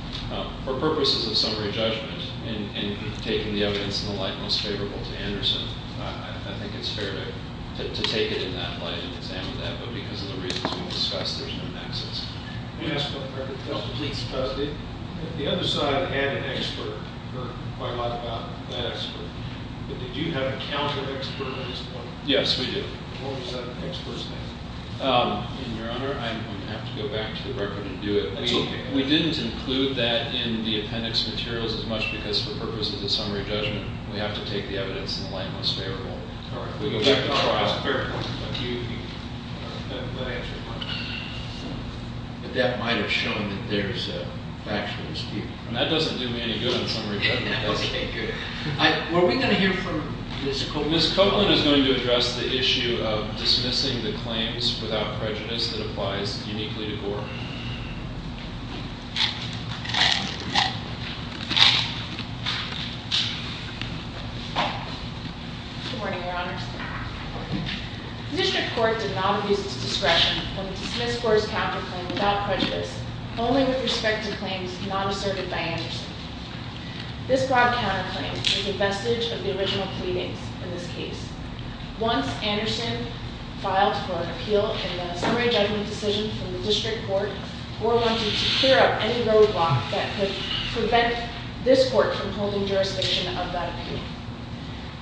For purposes of summary judgment and taking the evidence in the light most favorable to Anderson, I think it's fair to take it in that light and examine that. But because of the reasons we discussed, there's no nexus. May I ask one further question? Please. The other side had an expert who heard quite a lot about that expert. But did you have a counter-expert at this point? Yes, we did. What was that expert's name? Your Honor, I'm going to have to go back to the record and do it. That's okay. We didn't include that in the appendix materials as much because for purposes of summary judgment, we have to take the evidence in the light most favorable. All right. We'll go back to our expert. That might have shown that there's actually a speaker. That doesn't do me any good in summary judgment. Okay, good. Were we going to hear from Ms. Copeland? Ms. Copeland is going to address the issue of dismissing the claims without prejudice that applies uniquely to Gore. Good morning, Your Honors. The district court did not abuse its discretion when it dismissed Gore's counterclaim without prejudice, only with respect to claims not asserted by Anderson. This broad counterclaim is a vestige of the original pleadings in this case. the district court did not use its discretion when it dismissed Gore's counterclaim without prejudice. Gore wanted to clear up any roadblock that could prevent this court from holding jurisdiction of that appeal.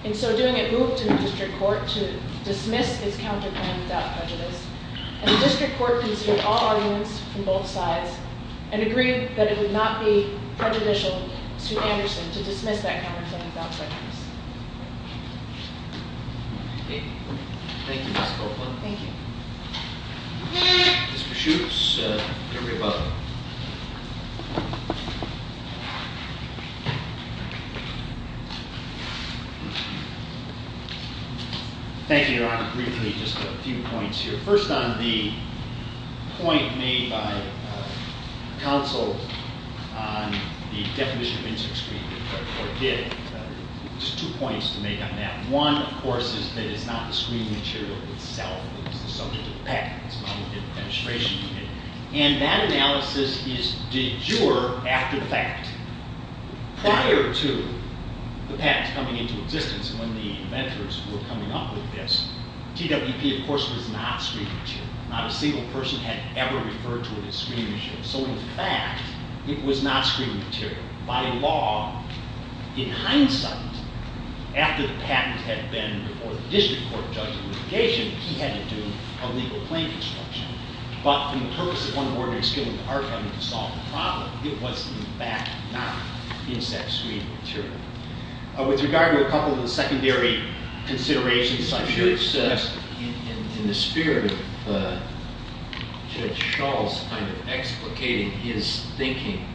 In so doing, it moved to the district court to dismiss its counterclaim without prejudice, and the district court conceded all arguments from both sides and agreed that it would not be prejudicial to Anderson to dismiss that counterclaim without prejudice. Okay. Thank you, Ms. Copeland. Thank you. Mr. Schultz, the jury above. Thank you, Your Honor. Briefly, just a few points here. First on the point made by counsel on the definition of inter-extremism that the court did, there's two points to make on that. One, of course, is that it's not the screening material itself that's the subject of the patent. It's not within the administration unit. And that analysis is de jure after the fact. Prior to the patent coming into existence and when the inventors were coming up with this, TWP, of course, was not screening material. Not a single person had ever referred to it as screening material. So, in fact, it was not screening material. By law, in hindsight, after the patent had been before the district court for judgment and litigation, he had to do a legal claim construction. But for the purpose of uncoordinated skill and hard time to solve the problem, it was, in fact, not the exact screening material. With regard to a couple of the secondary considerations such as in the spirit of Judge Schultz kind of explicating his thinking,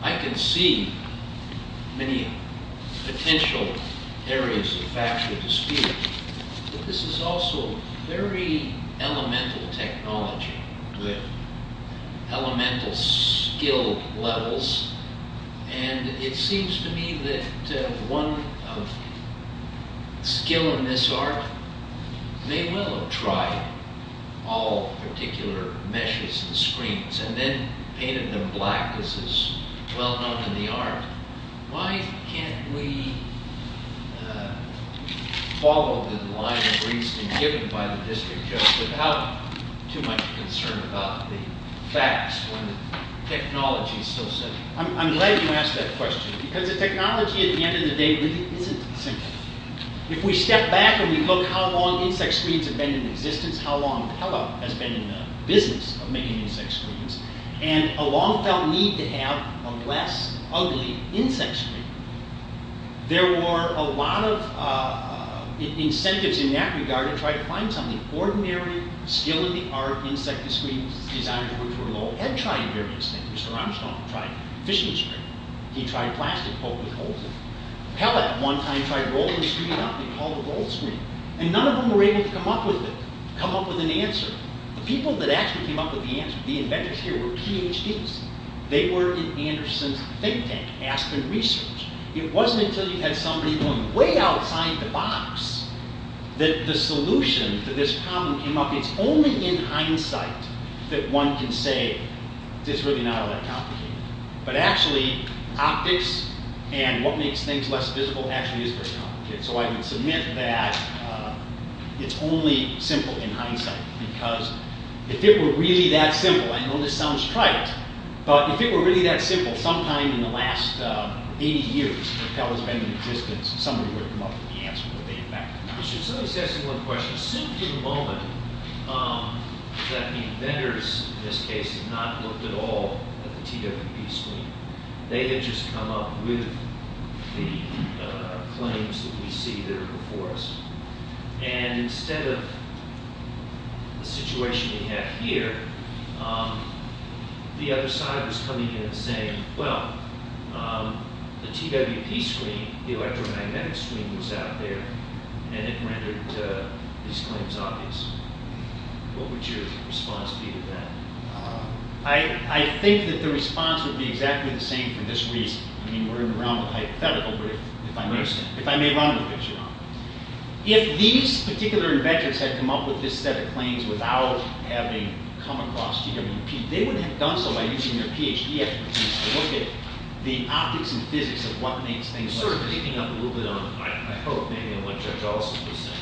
I can see many potential areas of factual dispute. But this is also very elemental technology with elemental skill levels and it seems to me that one skill in this art may well have tried all particular meshes and screens and then painted them black. This is well known in the art. Why can't we follow the line of reasoning given by the district judge without too much concern about the facts when the technology is so simple? I'm glad you asked that question because the technology at the end of the day really isn't simple. If we step back and we look how long insect screens have been in existence, how long Pella has been in the business of making insect screens, and a long-felt need to have a less ugly insect screen. There were a lot of incentives in that regard to try to find something ordinary, skill in the art, insect screens, designed to work for a low head, tried various things. Mr. Armstrong tried fishing screen. He tried plastic, hopefully holds it. Pella at one time tried rolling the screen up and called it rolled screen. And none of them were able to come up with it, come up with an answer. The people that actually came up with the answer, the inventors here were PhDs. They were in Anderson's think tank, asking research. It wasn't until you had somebody going way outside the box that the solution to this problem came up. It's only in hindsight that one can say it's really not all that complicated. But actually optics and what makes things less visible actually is very complicated. So I would submit that it's only simple in hindsight because if it were really that simple, I know this sounds trite, but if it were really that simple, sometime in the last 80 years when Pella's been in existence, somebody would have come up with the answer. Let me ask you one question. Soon to the moment that the inventors in this case have not looked at all at the TWP screen, they had just come up with the claims that we see there before us. And instead of the situation we have here, the other side was coming in and saying, well, the TWP screen, the electromagnetic screen was out there, and it rendered these claims obvious. What would your response be to that? I think that the response would be exactly the same for this reason. I mean, we're in the realm of hypothetical, but if I may run with the picture on it. If these particular inventors had come up with this set of claims without having come across TWP, they wouldn't have done so by using their Ph.D. expertise to look at the optics and physics of what makes things like this. You're sort of picking up a little bit on what Judge Alston was saying.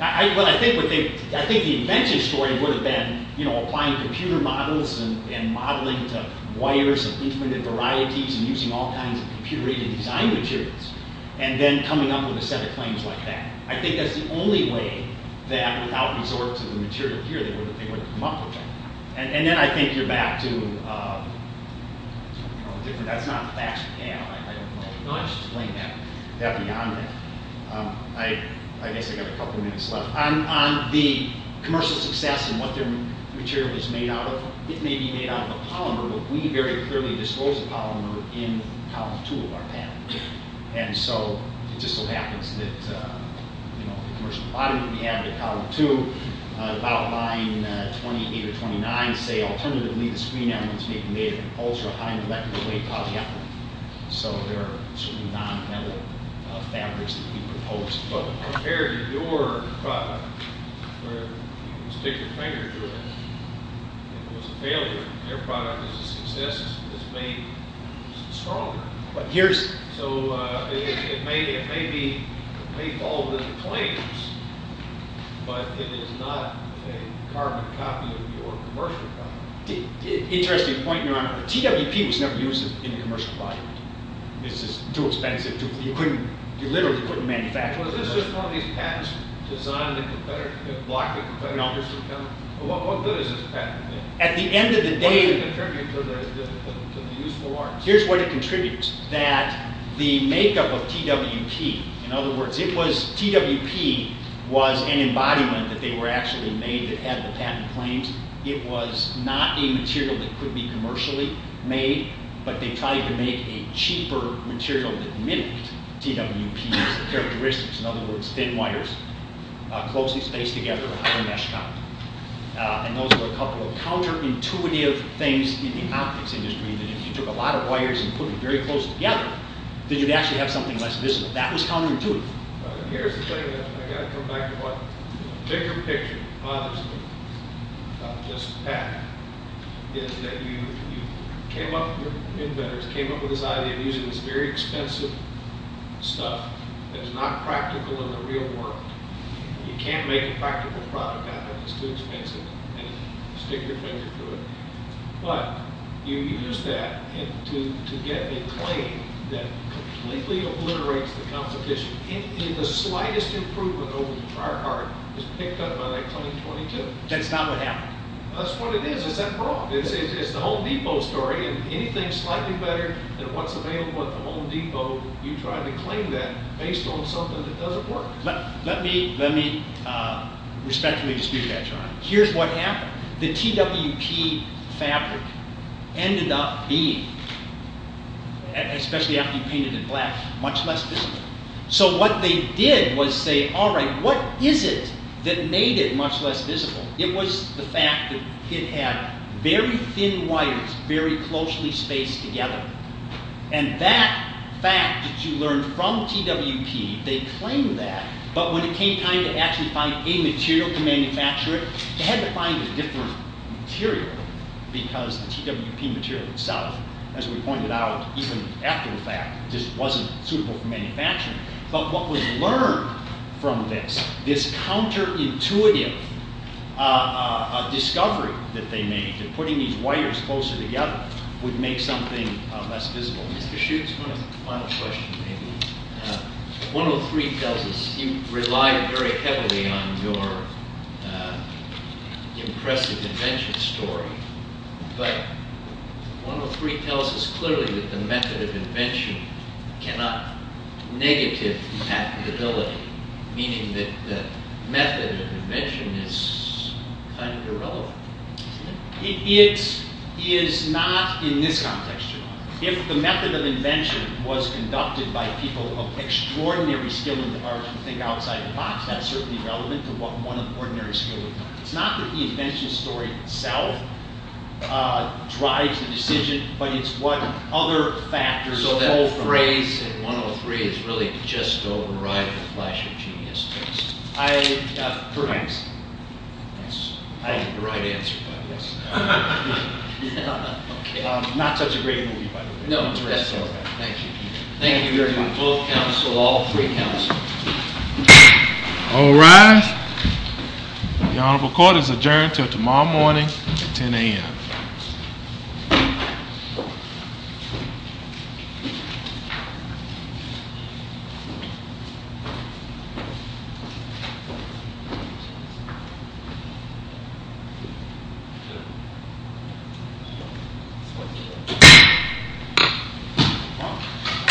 I think the invention story would have been applying computer models and modeling to wires of infinite varieties and using all kinds of computer-aided design materials and then coming up with a set of claims like that. I think that's the only way that without resort to the material here, they wouldn't have come up with it. And then I think you're back to... That's not facts for now. I don't know how to explain that beyond that. I guess I've got a couple minutes left. On the commercial success and what their material is made out of, it may be made out of a polymer, but we very clearly dispose of polymer in column two of our patent. And so it just so happens that the commercial bottom we have in column two, about line 28 or 29, say, alternatively, the screen elements may be made of ultra-high molecular weight polyethylene. So there are certain non-metal fabrics that we propose. But compared to your product, where you can stick your finger through it, it was a failure. Their product is a success because it's made stronger. But here's... So it may be... But it is not a carbon copy of your commercial product. Interesting point, Your Honor. TWP was never used in a commercial product. This is too expensive. You literally couldn't manufacture it. Was this just one of these patents designed to block the competitors from coming? No. At the end of the day... What did it contribute to the useful arms? Here's what it contributes. That the makeup of TWP, in other words, TWP was an embodiment that they were actually made that had the patent claims. It was not a material that could be commercially made. But they tried to make a cheaper material that mimicked TWP's characteristics. In other words, thin wires closely spaced together on a mesh copy. And those were a couple of counterintuitive things in the optics industry. If you took a lot of wires and put them very close together, then you'd actually have something less visible. That was counterintuitive. Here's the thing. I've got to come back to what the bigger picture bothers me about this patent. Is that you came up with this idea of using this very expensive stuff that is not practical in the real world. You can't make a practical product out of this too expensive and stick your finger through it. But you used that to get a claim that completely obliterates the competition. And the slightest improvement over the prior part was picked up by that claim 22. That's not what happened. That's what it is. Is that wrong? It's the Home Depot story. Anything slightly better than what's available at the Home Depot, you try to claim that based on something that doesn't work. Let me respectfully dispute that charge. Here's what happened. The TWP fabric ended up being, especially after you painted it black, much less visible. So what they did was say alright, what is it that made it much less visible? It was the fact that it had very thin wires, very closely spaced together. And that fact that you learned from TWP, they claimed that, but when it came time to actually find a material to manufacture it, they had to find a different material, because the TWP material itself, as we pointed out, even after the fact, just wasn't suitable for manufacturing. But what was learned from this, this counterintuitive discovery that they made, that putting these wires closer together would make something less visible. Mr. Schutz, one final question maybe. 103 tells us you relied very heavily on your impressive invention story, but 103 tells us clearly that the method of invention cannot negatively impact the ability, meaning that the method of invention is kind of irrelevant. It is not in this context, if the method of invention was conducted by people of extraordinary skill in the art of thinking outside the box, that's certainly relevant to what one of ordinary skill would learn. It's not that the invention story itself drives the decision, but it's what other factors So that phrase, 103, is really just a rival flash of genius to us. Correct. I have the right answer, but yes. Not such a great movie, by the way. No, that's all right. Thank you. Thank you very much. Both counsel, all three counts. All rise. The Honorable Court is adjourned until tomorrow morning at 10 a.m.